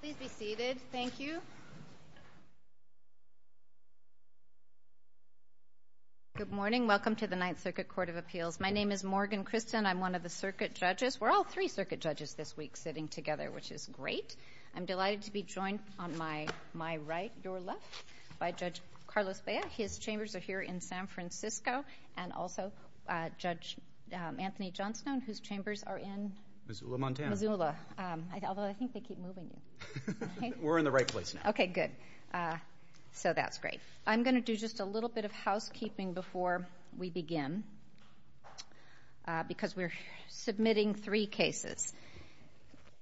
please be seated. Thank you. Good morning. Welcome to the Ninth Circuit Court of Appeals. My name is Morgan Kristen. I'm one of the circuit judges. We're all three circuit judges this week sitting together, which is great. I'm delighted to be joined on my my right your left by Judge Carlos Bayer. His chambers are here in San Francisco and also Judge Anthony Johnstone, whose chambers are in Missoula Missoula. Although I think they keep moving. We're in the right place. Okay, good. Uh, so that's great. I'm gonna do just a little bit of housekeeping before we begin because we're submitting three cases.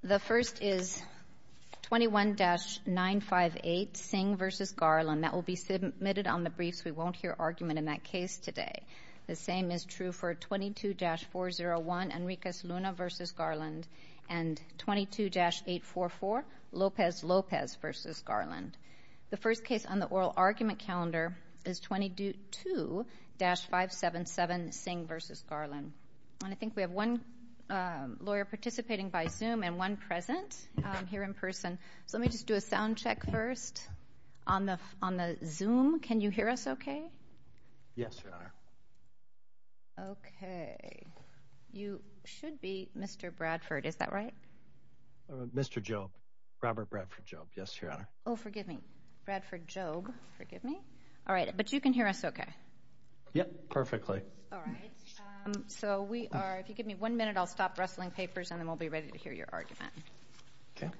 The first is 21-958 Singh versus Garland. That will be submitted on the briefs. We won't hear argument in that case today. The same is true for 22-401 Enriquez Luna versus Garland and 22-844 Lopez Lopez versus Garland. The first case on the oral argument calendar is 22-577 Singh versus Garland. And I think we have one lawyer participating by zoom and one present here in person. So let me just do a honor. Okay, you should be Mr Bradford. Is that right? Mr. Joe Robert Bradford Job. Yes, your honor. Oh, forgive me, Bradford Job. Forgive me. All right. But you can hear us. Okay. Yep. Perfectly. All right. Eso we are. If you give me one minute, I'll stop wrestling papers and then we'll be ready to hear your argument. Okay.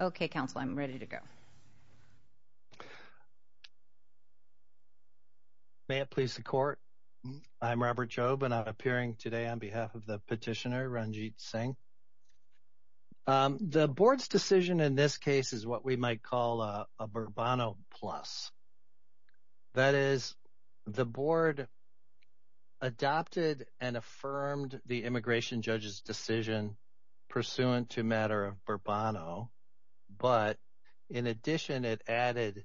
Okay, Council, I'm ready to go. May it please the court. I'm Robert Job and I'm appearing today on behalf of the petitioner, Ranjit Singh. The board's decision in this case is what we might call a Burbano plus. That is the board adopted and affirmed the immigration judge's decision pursuant to matter of Burbano. But in addition, it added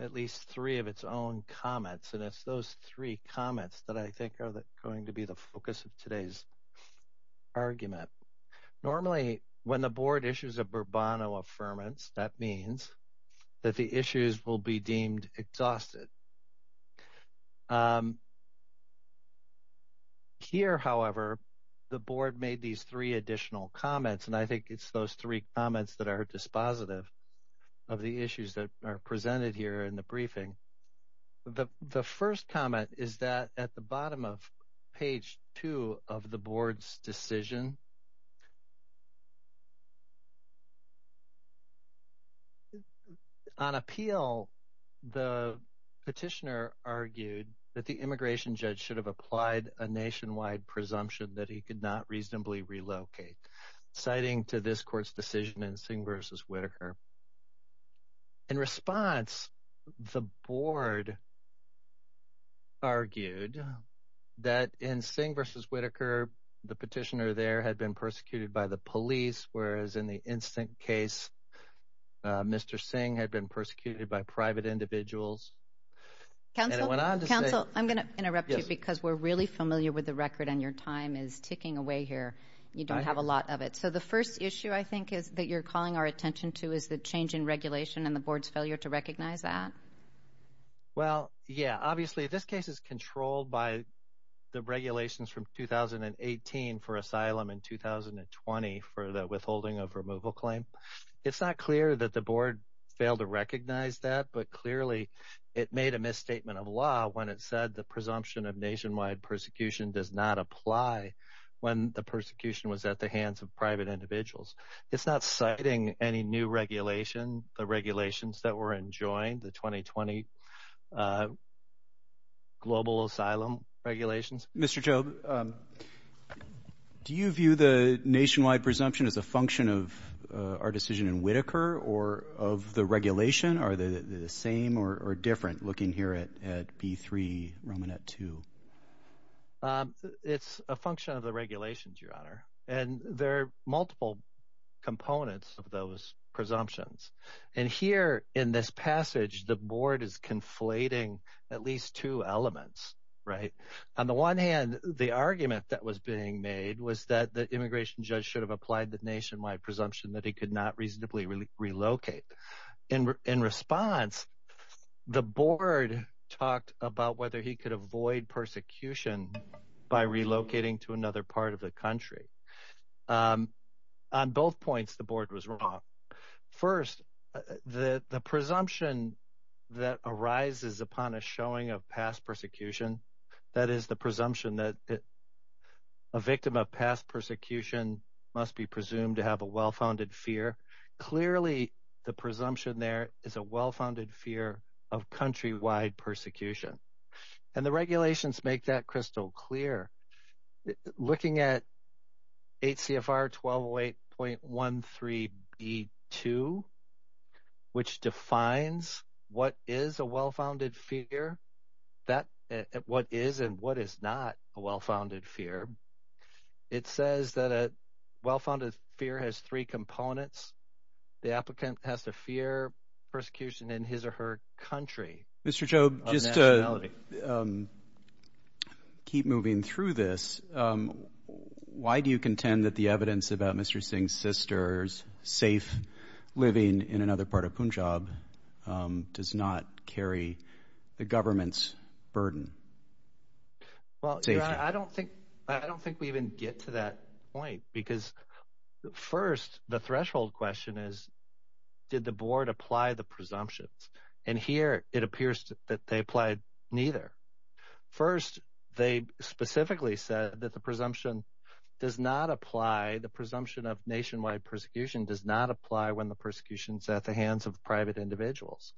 at least three of its own comments. And it's those three comments that I think are going to be the focus of today's argument. Normally, when the board issues a Burbano affirmance, that means that the issues will be deemed exhausted. Here, however, the board made these three additional comments, and I think it's those three comments that are dispositive of the issues that are presented here in the briefing. The first comment is that at the bottom of page two of the board's decision. On appeal, the petitioner argued that the immigration judge should have applied a nationwide presumption that he could not reasonably relocate, citing to this court's decision in Singh versus Whitaker. In response, the board argued that in Singh versus Whitaker, the petitioner there had made a claim that the petitioner had been persecuted by the police, whereas in the instant case, Mr. Singh had been persecuted by private individuals. Council, I'm going to interrupt you because we're really familiar with the record, and your time is ticking away here. You don't have a lot of it. So the first issue I think is that you're calling our attention to is the change in regulation and the board's failure to recognize that. Well, yeah, obviously, this case is controlled by the regulations from 2018 for asylum in 2020 for the withholding of removal claim. It's not clear that the board failed to recognize that, but clearly it made a misstatement of law when it said the presumption of nationwide persecution does not apply when the persecution was at the hands of private individuals. It's not citing any new regulation, the regulations that were enjoined, the 2020 global asylum regulations. Mr. Jobe, do you view the nationwide presumption as a function of our decision in Whitaker or of the regulation? Are they the same or different looking here at B3, Romanet 2? It's a function of the regulations, Your Honor, and there are multiple components of those presumptions. And here in this passage, the board is conflating at least two elements, right? On the one hand, the argument that was being made was that the immigration judge should have applied the nationwide presumption that he could not reasonably relocate. In response, the board talked about whether he could avoid persecution by relocating to another part of the state. On both points, the board was wrong. First, the presumption that arises upon a showing of past persecution, that is the presumption that a victim of past persecution must be presumed to have a well-founded fear. Clearly, the presumption there is a well-founded fear of countrywide persecution. And the Section 8.13B2, which defines what is a well-founded fear, what is and what is not a well-founded fear, it says that a well-founded fear has three components. The applicant has to fear persecution in his or her country. Mr. Jobe, just to keep moving through this, why do you contend that the sister's safe living in another part of Punjab does not carry the government's burden? Well, I don't think I don't think we even get to that point. Because first, the threshold question is, did the board apply the presumptions? And here it appears that they applied neither. First, they specifically said that the persecution does not apply when the persecution is at the hands of private individuals.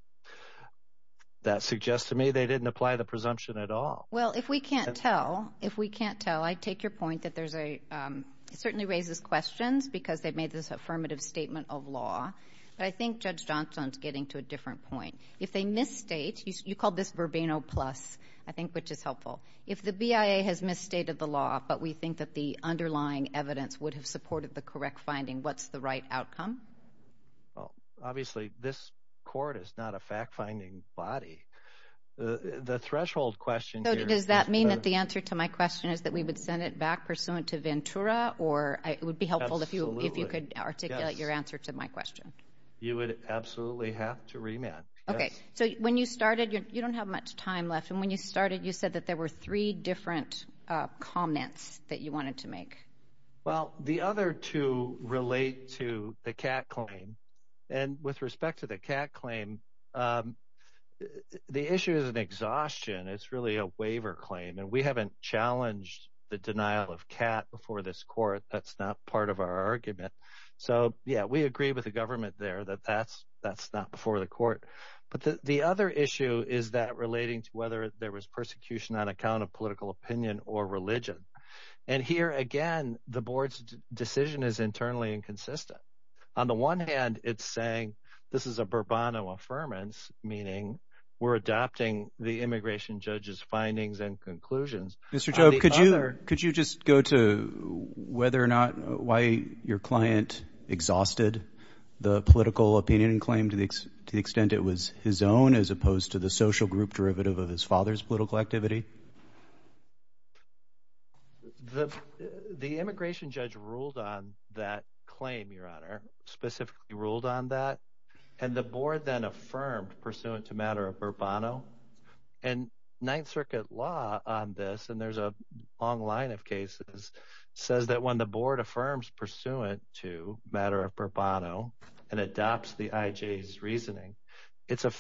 That suggests to me they didn't apply the presumption at all. Well, if we can't tell, if we can't tell, I take your point that there's a certainly raises questions because they've made this affirmative statement of law. But I think Judge Johnson's getting to a different point. If they misstate, you called this verbena plus, I think which is helpful. If the BIA has misstated the law, but we think that the underlying evidence would have supported the correct finding, what's the right outcome? Obviously, this court is not a fact finding body. The threshold question So does that mean that the answer to my question is that we would send it back pursuant to Ventura? Or it would be helpful if you if you could articulate your answer to my question. You would absolutely have to remand. Okay, so when you started, you don't have much time left. And when you started, you said that there were three different comments that you wanted to make. Well, the other two relate to the cat claim. And with respect to the cat claim. The issue is an exhaustion. It's really a waiver claim. And we haven't challenged the denial of cat before this court. That's not part of our argument. So yeah, we agree with the government there that that's, that's not before the court. But the other issue is that relating to whether there was persecution on account of political opinion or religion. And here again, the board's decision is internally inconsistent. On the one hand, it's saying, this is a Burbano affirmance, meaning we're adopting the immigration judges findings and conclusions. Mr. Joe, could you could you just go to whether or not why your client exhausted the political opinion and claim to the extent it was his own as opposed to the social group derivative of his father's political activity? The, the immigration judge ruled on that claim, Your Honor, specifically ruled on that. And the board then affirmed pursuant to matter of Burbano. And Ninth Circuit law on this, and there's a long line of cases, says that when the board affirms pursuant to matter of Burbano, and adopts the IJ's reasoning, it's the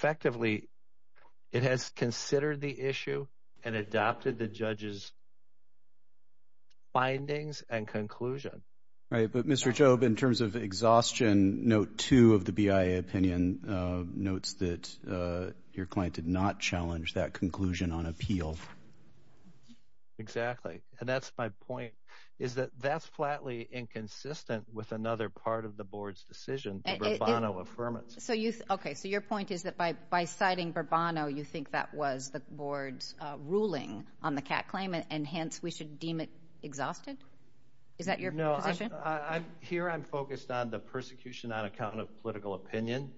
judge's findings and conclusion. Right. But Mr. Jobe, in terms of exhaustion, note two of the BIA opinion notes that your client did not challenge that conclusion on appeal. Exactly. And that's my point, is that that's flatly inconsistent with another part of the board's decision, the Burbano affirmance. So you Okay, so your point is that by by citing Burbano, you think that was the cat claim, and hence, we should deem it exhausted? Is that your No, I'm here, I'm focused on the persecution on account of political opinion.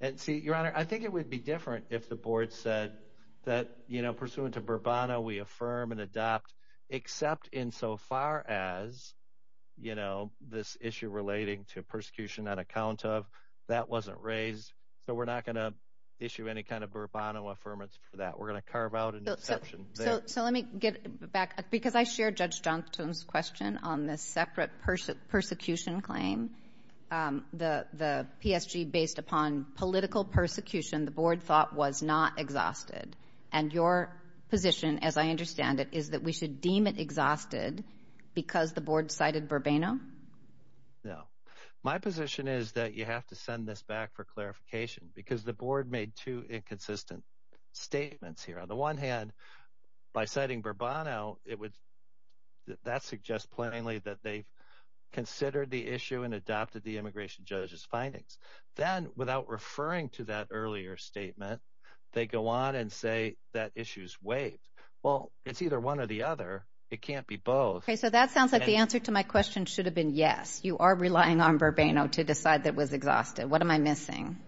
And see, Your Honor, I think it would be different if the board said that, you know, pursuant to Burbano, we affirm and adopt, except in so far as, you know, this issue relating to persecution on account of that wasn't raised. So we're not going to issue any kind of Burbano affirmance for that we're going to carve out an exception. So let me get back, because I share Judge Johnstone's question on this separate persecution claim, the PSG based upon political persecution, the board thought was not exhausted. And your position, as I understand it, is that we should deem it exhausted, because the board cited Burbano? No, my position is that you have to send this back for clarification, because the board made two inconsistent statements here. On the one hand, by citing Burbano, it would, that suggests plainly that they considered the issue and adopted the immigration judge's findings. Then without referring to that earlier statement, they go on and say that issue's waived. Well, it's either one or the other. It can't be both. Okay, so that sounds like the answer to my question should have been yes, you are relying on Burbano to decide that was exhausted. What am I missing?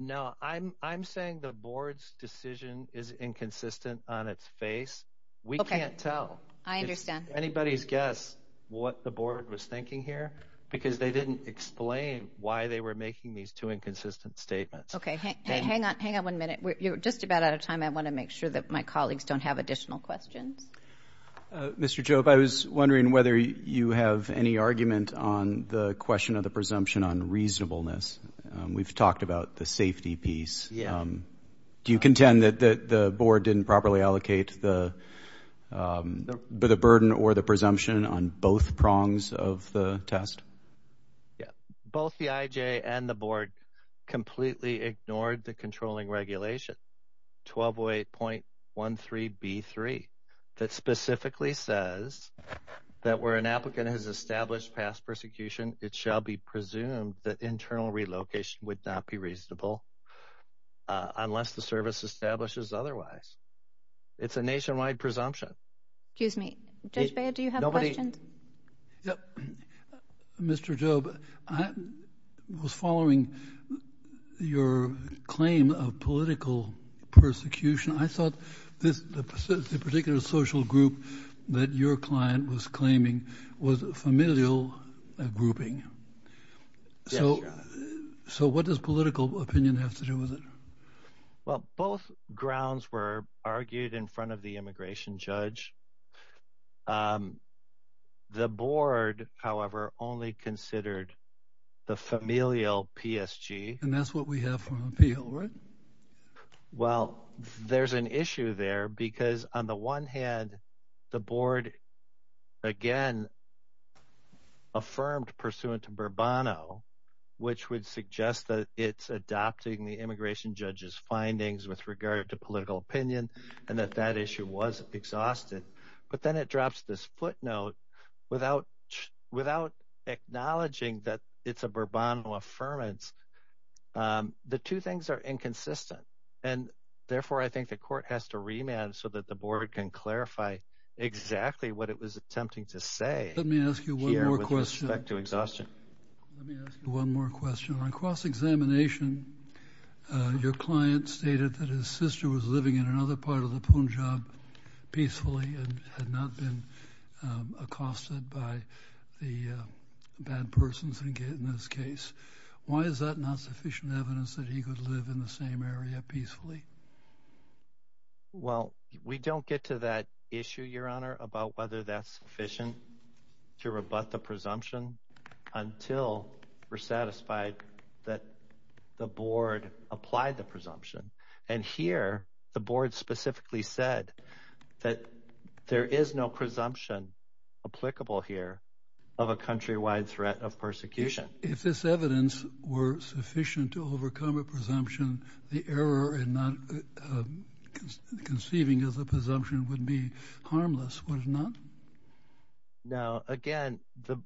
No, I'm saying the board's decision is inconsistent on its face. We can't tell. I understand. If anybody's guess what the board was thinking here, because they didn't explain why they were making these two inconsistent statements. Okay, hang on, hang on one minute. We're just about out of time. I want to make sure that my colleagues don't have additional questions. Mr. Jobe, I was wondering whether you have any argument on the question of presumption on reasonableness. We've talked about the safety piece. Do you contend that the board didn't properly allocate the burden or the presumption on both prongs of the test? Yeah, both the IJ and the board completely ignored the controlling regulation, 1208.13b3, that specifically says that where an applicant has presumed that internal relocation would not be reasonable unless the service establishes otherwise. It's a nationwide presumption. Excuse me, Judge Baird, do you have questions? Mr. Jobe, I was following your claim of political persecution. I thought this particular social group that your client was claiming was familial grouping. So, so what does political opinion have to do with it? Well, both grounds were argued in front of the immigration judge. The board, however, only considered the familial PSG. And that's what we have from appeal, right? Well, there's an issue there because on the one hand, the board, again, affirmed pursuant to Bourbon, which would suggest that it's adopting the immigration judge's findings with regard to political opinion, and that that issue was exhausted. But then it drops this footnote without, without acknowledging that it's a Bourbon affirmance. The two things are inconsistent. And therefore, I think the court has to remand so that the board can clarify exactly what it was to exhaustion. Let me ask you one more question. On cross-examination, your client stated that his sister was living in another part of the Punjab peacefully and had not been accosted by the bad persons in this case. Why is that not sufficient evidence that he could live in the same area peacefully? Well, we don't get to that issue, Your Honor, about whether that's sufficient to rebut the presumption until we're satisfied that the board applied the presumption. And here, the board specifically said that there is no presumption applicable here of a countrywide threat of persecution. If this evidence were sufficient to overcome a presumption, the error in not conceiving as a presumption would be harmless, would it not? Now, again, the,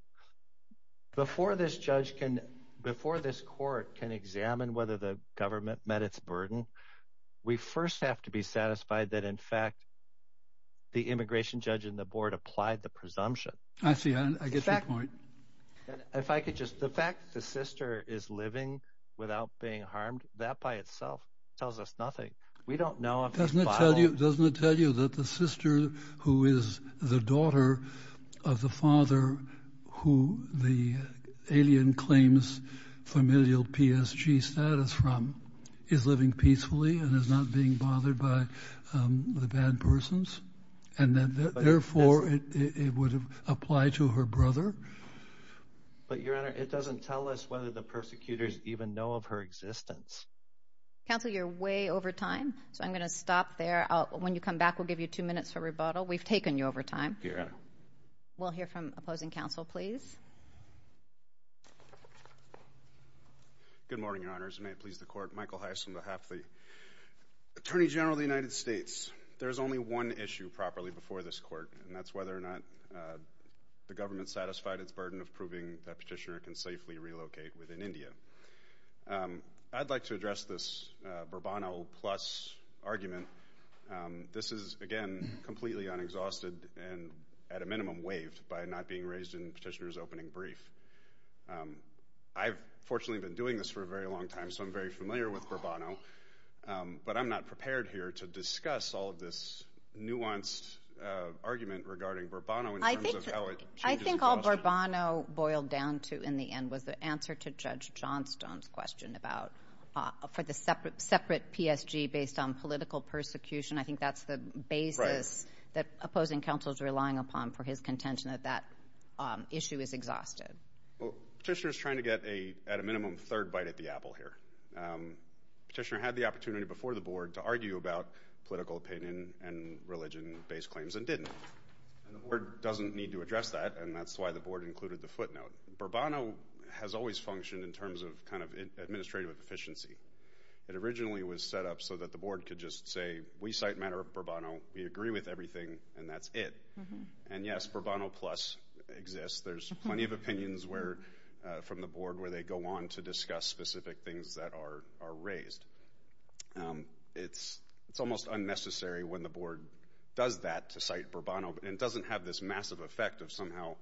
before this judge can, before this court can examine whether the government met its burden, we first have to be satisfied that, in fact, the immigration judge and the board applied the presumption. I see. I get your point. If I could just, the fact the sister is living without being harmed, that by itself tells us nothing. We don't know. Doesn't it tell you, doesn't it tell you that the sister who is the daughter of the father who the alien claims familial PSG status from is living peacefully and is not being bothered by the bad persons and that therefore it would apply to her brother? But, Your Honor, it doesn't tell us whether the persecutors even know of her existence. Counsel, you're way over time, so I'm going to stop there. When you come back, we'll give you two minutes for rebuttal. We've taken you over time. We'll hear from opposing counsel, please. Good morning, Your Honors. May it please the court. Michael Heisman, behalf of the Attorney General of the United States. There's only one issue properly before this court, and that's whether or not the government satisfied its burden of proving that petitioner can safely relocate within India. Um, I'd like to address this Burbano plus argument. This is again completely unexhausted and at a minimum waived by not being raised in petitioner's opening brief. I've fortunately been doing this for a very long time, so I'm very familiar with Burbano, but I'm not prepared here to discuss all of this nuanced argument regarding Burbano. I think I think all Burbano boiled down to in the end was the answer to Judge Johnstone's question about for the separate separate PSG based on political persecution. I think that's the basis that opposing counsel's relying upon for his contention that that issue is exhausted. Petitioner's trying to get a at a minimum third bite at the apple here. Petitioner had the opportunity before the board to argue about political opinion and religion based claims and didn't. The board doesn't need to has always functioned in terms of kind of administrative efficiency. It originally was set up so that the board could just say we cite matter of Burbano. We agree with everything, and that's it. And yes, Burbano plus exists. There's plenty of opinions where from the board where they go on to discuss specific things that are raised. It's almost unnecessary when the board does that to cite Burbano and doesn't have this massive effect of somehow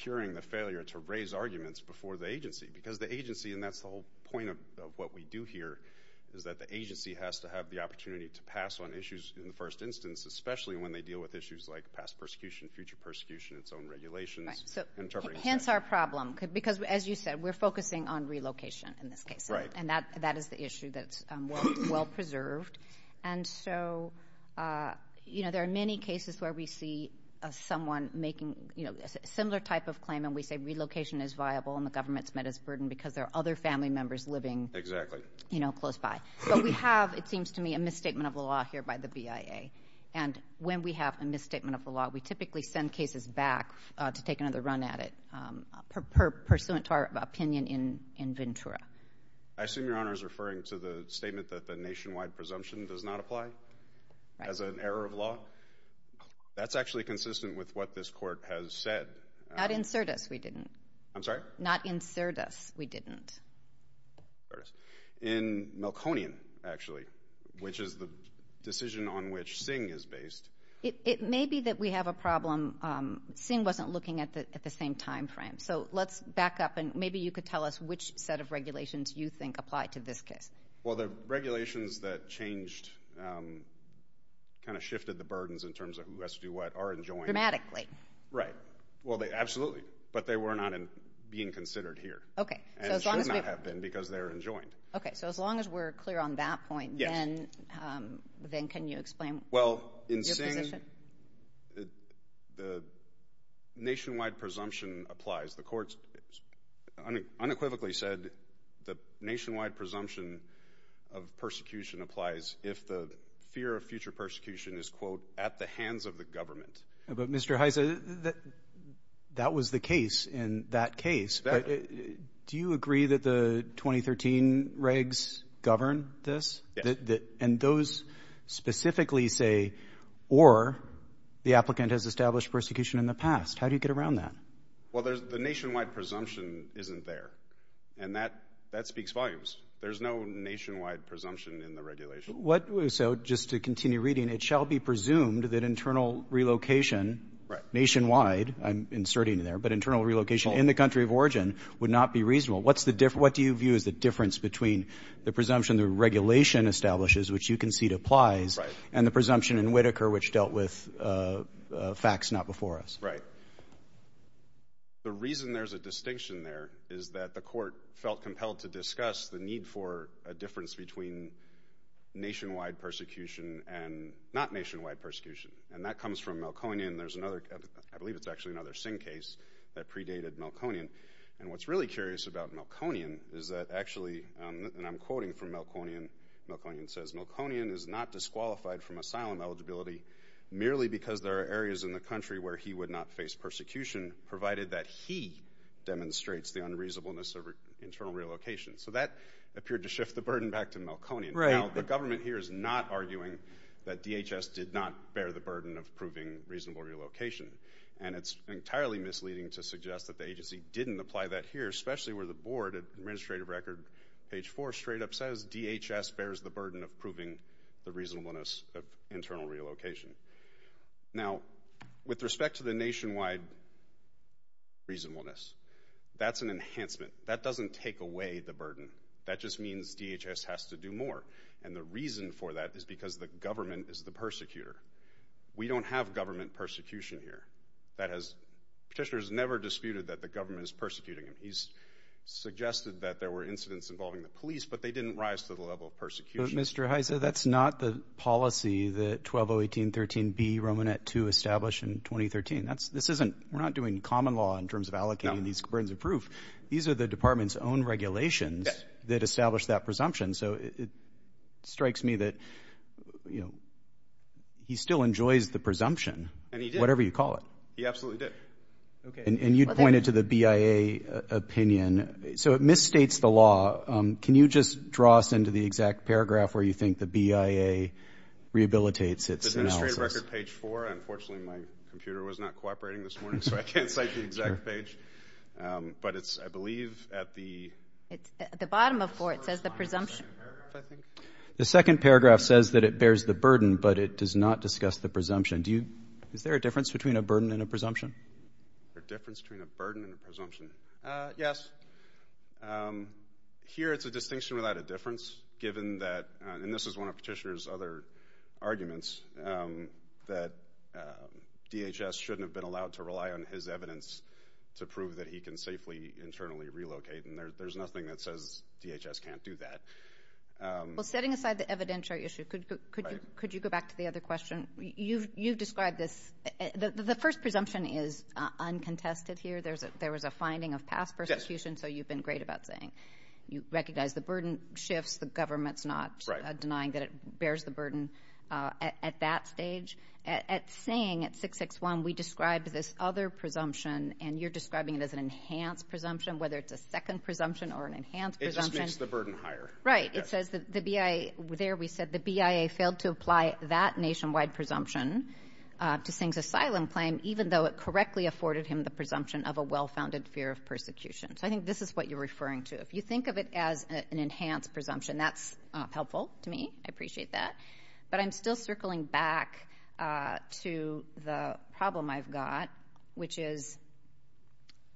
curing the failure to raise arguments before the agency because the agency and that's the whole point of what we do here is that the agency has to have the opportunity to pass on issues in the first instance, especially when they deal with issues like past persecution, future persecution, its own regulations. Hence our problem because, as you said, we're focusing on relocation in this case, right? And that that is the issue that's well preserved. And so, uh, you know, there are many cases where we see someone making, you know, similar type of claim and we say relocation is viable and the government's met its burden because there are other family members living exactly, you know, close by. So we have, it seems to me, a misstatement of the law here by the B. I. A. And when we have a misstatement of the law, we typically send cases back to take another run at it. Um, pursuant to our opinion in in Ventura, I assume your honor is referring to the statement that the nationwide presumption does not apply as an error of law. That's actually consistent with what this we didn't. I'm sorry. Not insert us. We didn't. In Malconian, actually, which is the decision on which Singh is based. It may be that we have a problem. Um, Singh wasn't looking at the at the same time frame. So let's back up and maybe you could tell us which set of regulations you think apply to this case. Well, the regulations that changed, um, kind of shifted the burdens in terms of who has to do that are enjoying dramatically, right? Well, they absolutely. But they were not being considered here. Okay. And it should not have been because they're enjoined. Okay. So as long as we're clear on that point, then, um, then can you explain? Well, in saying the nationwide presumption applies, the courts unequivocally said the nationwide presumption of persecution applies. If the fear of future persecution is, quote, at the hands of the government. But, Mr Heiser, that that was the case. In that case, do you agree that the 2013 regs govern this and those specifically say or the applicant has established persecution in the past? How do you get around that? Well, there's the nationwide presumption isn't there, and that that speaks volumes. There's no nationwide presumption in the regulation. What? So just to continue reading, it shall be presumed that internal relocation nationwide. I'm inserting there, but internal relocation in the country of origin would not be reasonable. What's the difference? What do you view is the difference between the presumption the regulation establishes, which you concede applies and the presumption in Whitaker, which dealt with facts not before us, right? The reason there's a distinction there is that the court felt compelled to make a distinction between nationwide persecution and not nationwide persecution. And that comes from Melkonian. There's another, I believe it's actually another Singh case that predated Melkonian. And what's really curious about Melkonian is that actually, and I'm quoting from Melkonian, Melkonian says, Melkonian is not disqualified from asylum eligibility merely because there are areas in the country where he would not face persecution, provided that he demonstrates the unreasonableness of Melkonian. Now, the government here is not arguing that DHS did not bear the burden of proving reasonable relocation. And it's entirely misleading to suggest that the agency didn't apply that here, especially where the board, Administrative Record page four straight up says, DHS bears the burden of proving the reasonableness of internal relocation. Now, with respect to the nationwide reasonableness, that's an enhancement. That doesn't take away the burden. That just means DHS has to do more. And the reason for that is because the government is the persecutor. We don't have government persecution here. That has... Petitioner has never disputed that the government is persecuting him. He's suggested that there were incidents involving the police, but they didn't rise to the level of persecution. But Mr. Heise, that's not the policy that 12018.13B, Romanet 2, established in 2013. This isn't... We're not doing common law in terms of allocating these burdens of proof. These are the department's own regulations that establish that presumption. So it strikes me that he still enjoys the presumption, whatever you call it. And he did. He absolutely did. Okay. And you'd pointed to the BIA opinion. So it misstates the law. Can you just draw us into the exact paragraph where you think the BIA rehabilitates its analysis? Administrative Record page four. Unfortunately, my computer was not cooperating this morning, so I can't cite the exact page. But it's, I believe, at the... At the bottom of four, it says the presumption. The second paragraph says that it bears the burden, but it does not discuss the presumption. Is there a difference between a burden and a presumption? There's a difference between a burden and a presumption. Yes. Here, it's a distinction without a difference, given that... And this is one of Petitioner's other arguments, that DHS shouldn't have been allowed to rely on his evidence to prove that he can safely internally relocate. And there's nothing that says DHS can't do that. Well, setting aside the evidentiary issue, could you go back to the other question? You've described this... The first presumption is uncontested here. There was a finding of past persecution, so you've been great about saying you recognize the burden shifts, the government's not denying that it bears the burden at that stage. At Singh, at 661, we described this other presumption, and you're describing it as an enhanced presumption, whether it's a second presumption or an enhanced presumption. It just makes the burden higher. Right. It says that the BIA... There, we said the BIA failed to apply that nationwide presumption to Singh's asylum claim, even though it correctly afforded him the presumption of a well founded fear of persecution. So I think this is what you're referring to. If you think of it as an enhanced presumption, that's helpful to me. I appreciate that. But I'm still circling back to the problem I've got, which is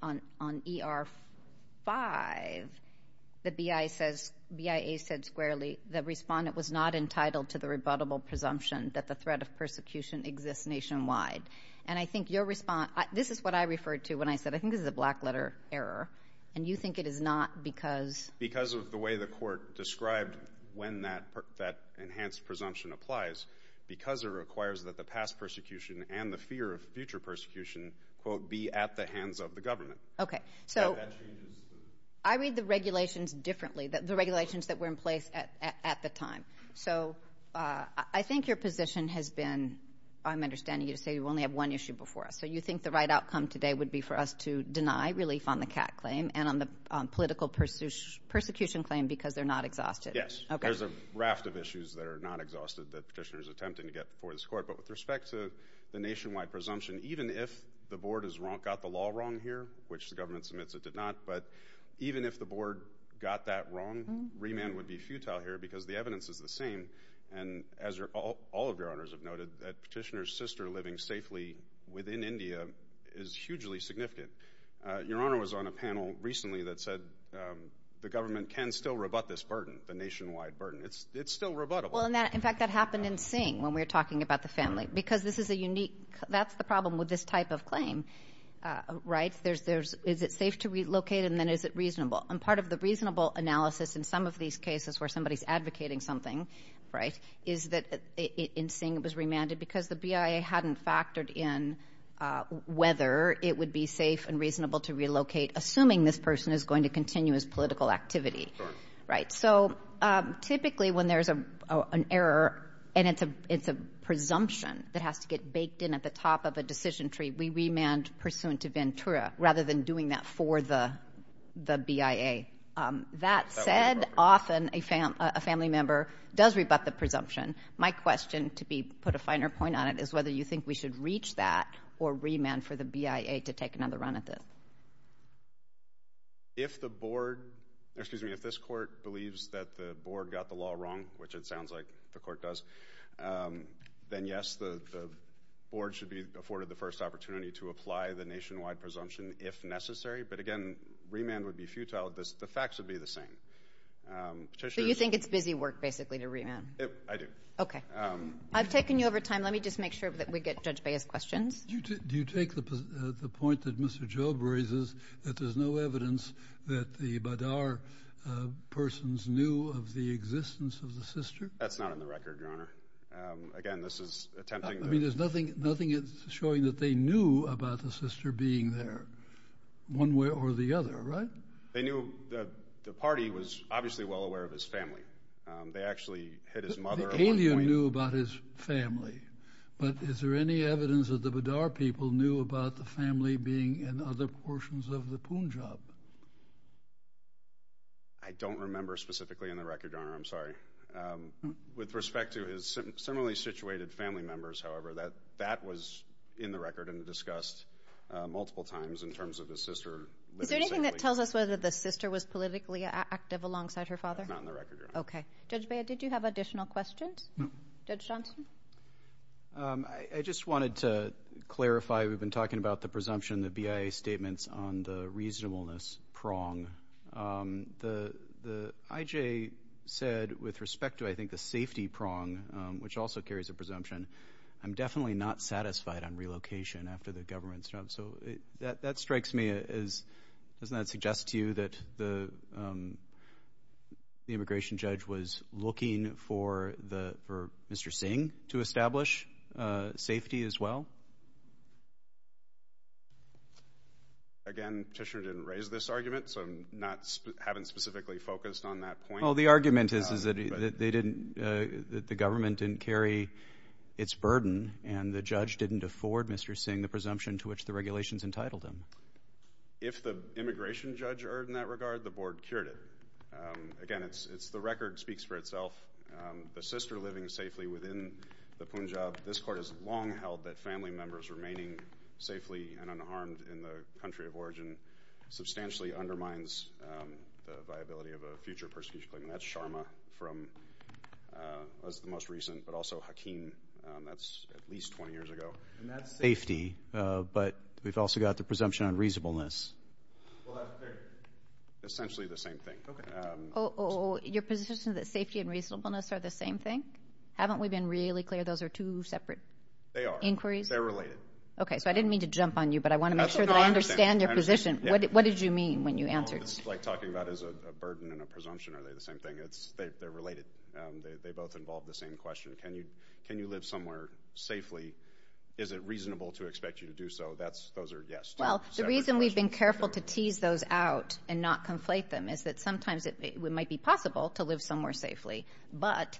on ER5, the BIA says squarely, the respondent was not entitled to the rebuttable presumption that the threat of persecution exists nationwide. And I think your response... This is what I referred to when I said, I think this is a black letter error, and you think it is not because... Because of the way the court described when that enhanced presumption applies, because it requires that the past persecution and the fear of future persecution, quote, be at the hands of the government. Okay. So... I read the regulations differently, the regulations that were in place at the time. So I think your position has been... I'm understanding you say you only have one issue before us. So you think the right outcome today would be for us to deny relief on the CAT claim and on the political persecution claim because they're not exhausted? Yes. Okay. There's a raft of issues that are not exhausted that Petitioner is attempting to get before this court. But with respect to the nationwide presumption, even if the board has got the law wrong here, which the government submits it did not, but even if the board got that wrong, remand would be futile here because the evidence is the same. And as all of your owners have noted, that Petitioner's sister living safely within India is hugely significant. Your Honor was on a panel recently that said the government can still rebut this burden, the nationwide burden. It's still rebuttable. Well, in fact, that happened in Singh when we were talking about the family, because this is a unique... That's the problem with this type of claim, right? Is it safe to relocate and then is it reasonable? And part of the reasonable analysis in some of these cases where somebody's advocating something, right, is that in Singh it was remanded because the BIA hadn't factored in whether it would be safe and reasonable to relocate, assuming this person is going to continue his political activity, right? So typically when there's an error and it's a presumption that has to get baked in at the top of a decision tree, we remand pursuant to Ventura rather than doing that for the BIA. That said, often a family member does rebut the presumption. My question to be put a finer point on it is whether you think we should reach that or remand for the BIA to take another run at it. If the board... Excuse me, if this court believes that the board got the law wrong, which it sounds like the court does, then yes, the board should be afforded the first opportunity to apply the nationwide presumption if necessary. But again, remand would be futile. The facts would be the same. So you think it's busy work basically to I've taken you over time. Let me just make sure that we get Judge Bia's questions. Do you take the point that Mr. Job raises that there's no evidence that the Badar persons knew of the existence of the sister? That's not on the record, Your Honor. Again, this is attempting to... I mean, there's nothing showing that they knew about the sister being there one way or the other, right? They knew that the party was obviously well aware of his family. They actually hit his mother at one point. The family. But is there any evidence that the Badar people knew about the family being in other portions of the Punjab? I don't remember specifically in the record, Your Honor. I'm sorry. With respect to his similarly situated family members, however, that that was in the record and discussed multiple times in terms of the sister... Is there anything that tells us whether the sister was politically active alongside her father? Not in the record, Your Honor. Okay. Judge Bia, did you have additional questions? No. Judge Johnson? I just wanted to clarify. We've been talking about the presumption, the BIA statements on the reasonableness prong. The IJ said, with respect to, I think, the safety prong, which also carries a presumption, I'm definitely not satisfied on relocation after the government's... So that strikes me as... Doesn't that strike you as the judge was looking for Mr. Singh to establish safety as well? Again, Petitioner didn't raise this argument, so I haven't specifically focused on that point. Oh, the argument is that they didn't... That the government didn't carry its burden and the judge didn't afford Mr. Singh the presumption to which the regulations entitled him. If the immigration judge erred in that regard, the board cured it. Again, it's the record speaks for itself. The sister living safely within the Punjab, this court has long held that family members remaining safely and unharmed in the country of origin substantially undermines the viability of a future persecution claim. And that's Sharma from... That's the most recent, but also Hakeem. That's at least 20 years ago. And that's safety, but we've also got the presumption on reasonableness. Well, they're essentially the same thing. Okay. Your position is that safety and reasonableness are the same thing? Haven't we been really clear those are two separate inquiries? They are. They're related. Okay, so I didn't mean to jump on you, but I wanna make sure that I understand your position. What did you mean when you answered? It's like talking about as a burden and a presumption, are they the same thing? They're related. They both involve the same question. Can you live somewhere safely? Is it reasonable to expect you to do so? Those are yes. The reason we've been careful to tease those out and not conflate them is that sometimes it might be possible to live somewhere safely, but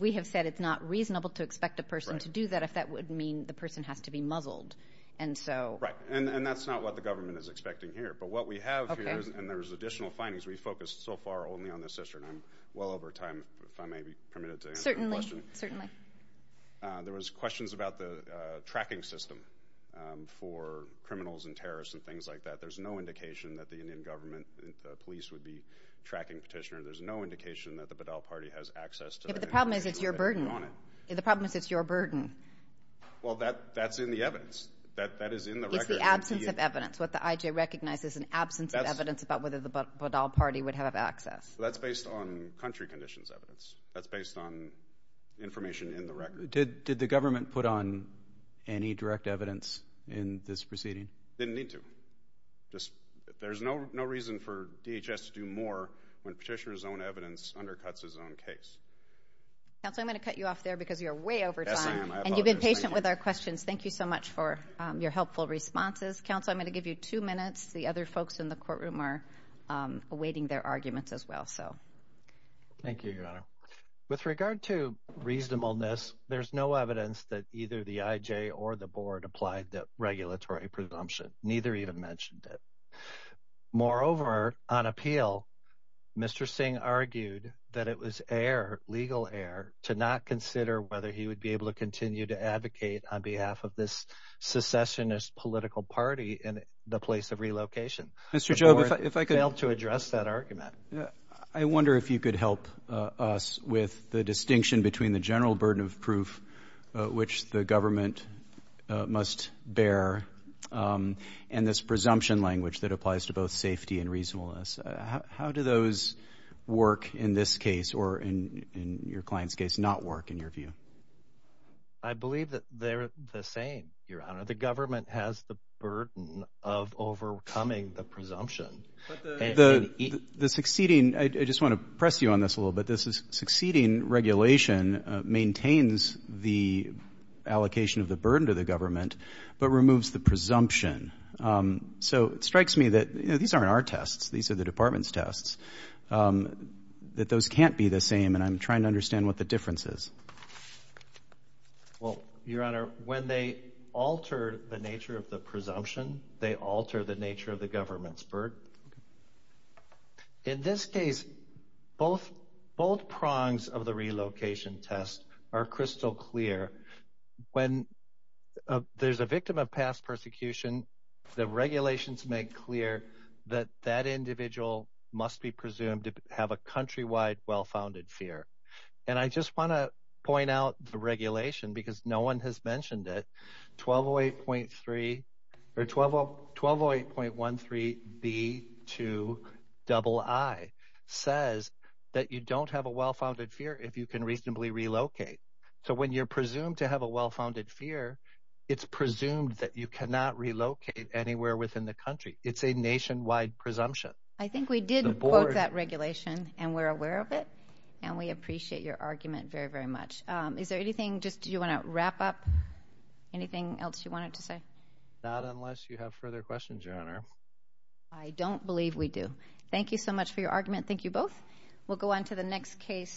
we have said it's not reasonable to expect a person to do that if that would mean the person has to be muzzled. Right, and that's not what the government is expecting here. But what we have here, and there's additional findings, we focused so far only on the sister, and I'm well aware of that. Certainly. There was questions about the tracking system for criminals and terrorists and things like that. There's no indication that the Indian government, the police would be tracking Petitioner. There's no indication that the Badal Party has access to that information. But the problem is it's your burden. The problem is it's your burden. Well, that's in the evidence. That is in the record. It's the absence of evidence. What the IJ recognizes is an absence of evidence about whether the Badal Party would have access. That's based on country conditions evidence. That's based on information in the record. Did the government put on any direct evidence in this proceeding? Didn't need to. There's no reason for DHS to do more when Petitioner's own evidence undercuts his own case. Counselor, I'm gonna cut you off there because you're way over time. Yes, I am. I apologize. And you've been patient with our questions. Thank you so much for your helpful responses. Counselor, I'm gonna give you two minutes. The other folks in the courtroom are awaiting their arguments as well. Thank you, Your Honor. With regard to reasonableness, there's no evidence that either the IJ or the board applied the regulatory presumption. Neither even mentioned it. Moreover, on appeal, Mr. Singh argued that it was legal error to not consider whether he would be able to continue to advocate on behalf of this secessionist political party in the place of relocation. Mr. Jobe, if I could address that argument, I wonder if you could help us with the distinction between the general burden of proof which the government must bear and this presumption language that applies to both safety and reasonableness. How do those work in this case or in your client's case not work in your view? I believe that they're the same, Your Honor. The government has the burden of overcoming the presumption. The succeeding, I just want to press you on this a little bit, this is succeeding regulation maintains the allocation of the burden to the government but removes the presumption. So it strikes me that, you know, these aren't our tests. These are the department's tests. That those can't be the same and I'm trying to understand what the difference is. Well, Your Honor, when they alter the nature of the presumption, they alter the nature of the government's burden. In this case, both prongs of the relocation test are crystal clear. When there's a victim of past persecution, the regulations make clear that that individual must be presumed to have a countrywide well-founded fear. And I just want to 1208.13b2ii says that you don't have a well-founded fear if you can reasonably relocate. So when you're presumed to have a well-founded fear, it's presumed that you cannot relocate anywhere within the country. It's a nationwide presumption. I think we did quote that regulation and we're aware of it and we appreciate your argument very, very much. Is there anything you want to wrap up? Anything else you wanted to say? Not unless you have further questions, Your Honor. I don't believe we do. Thank you so much for your argument. Thank you both. We'll go on to the next case.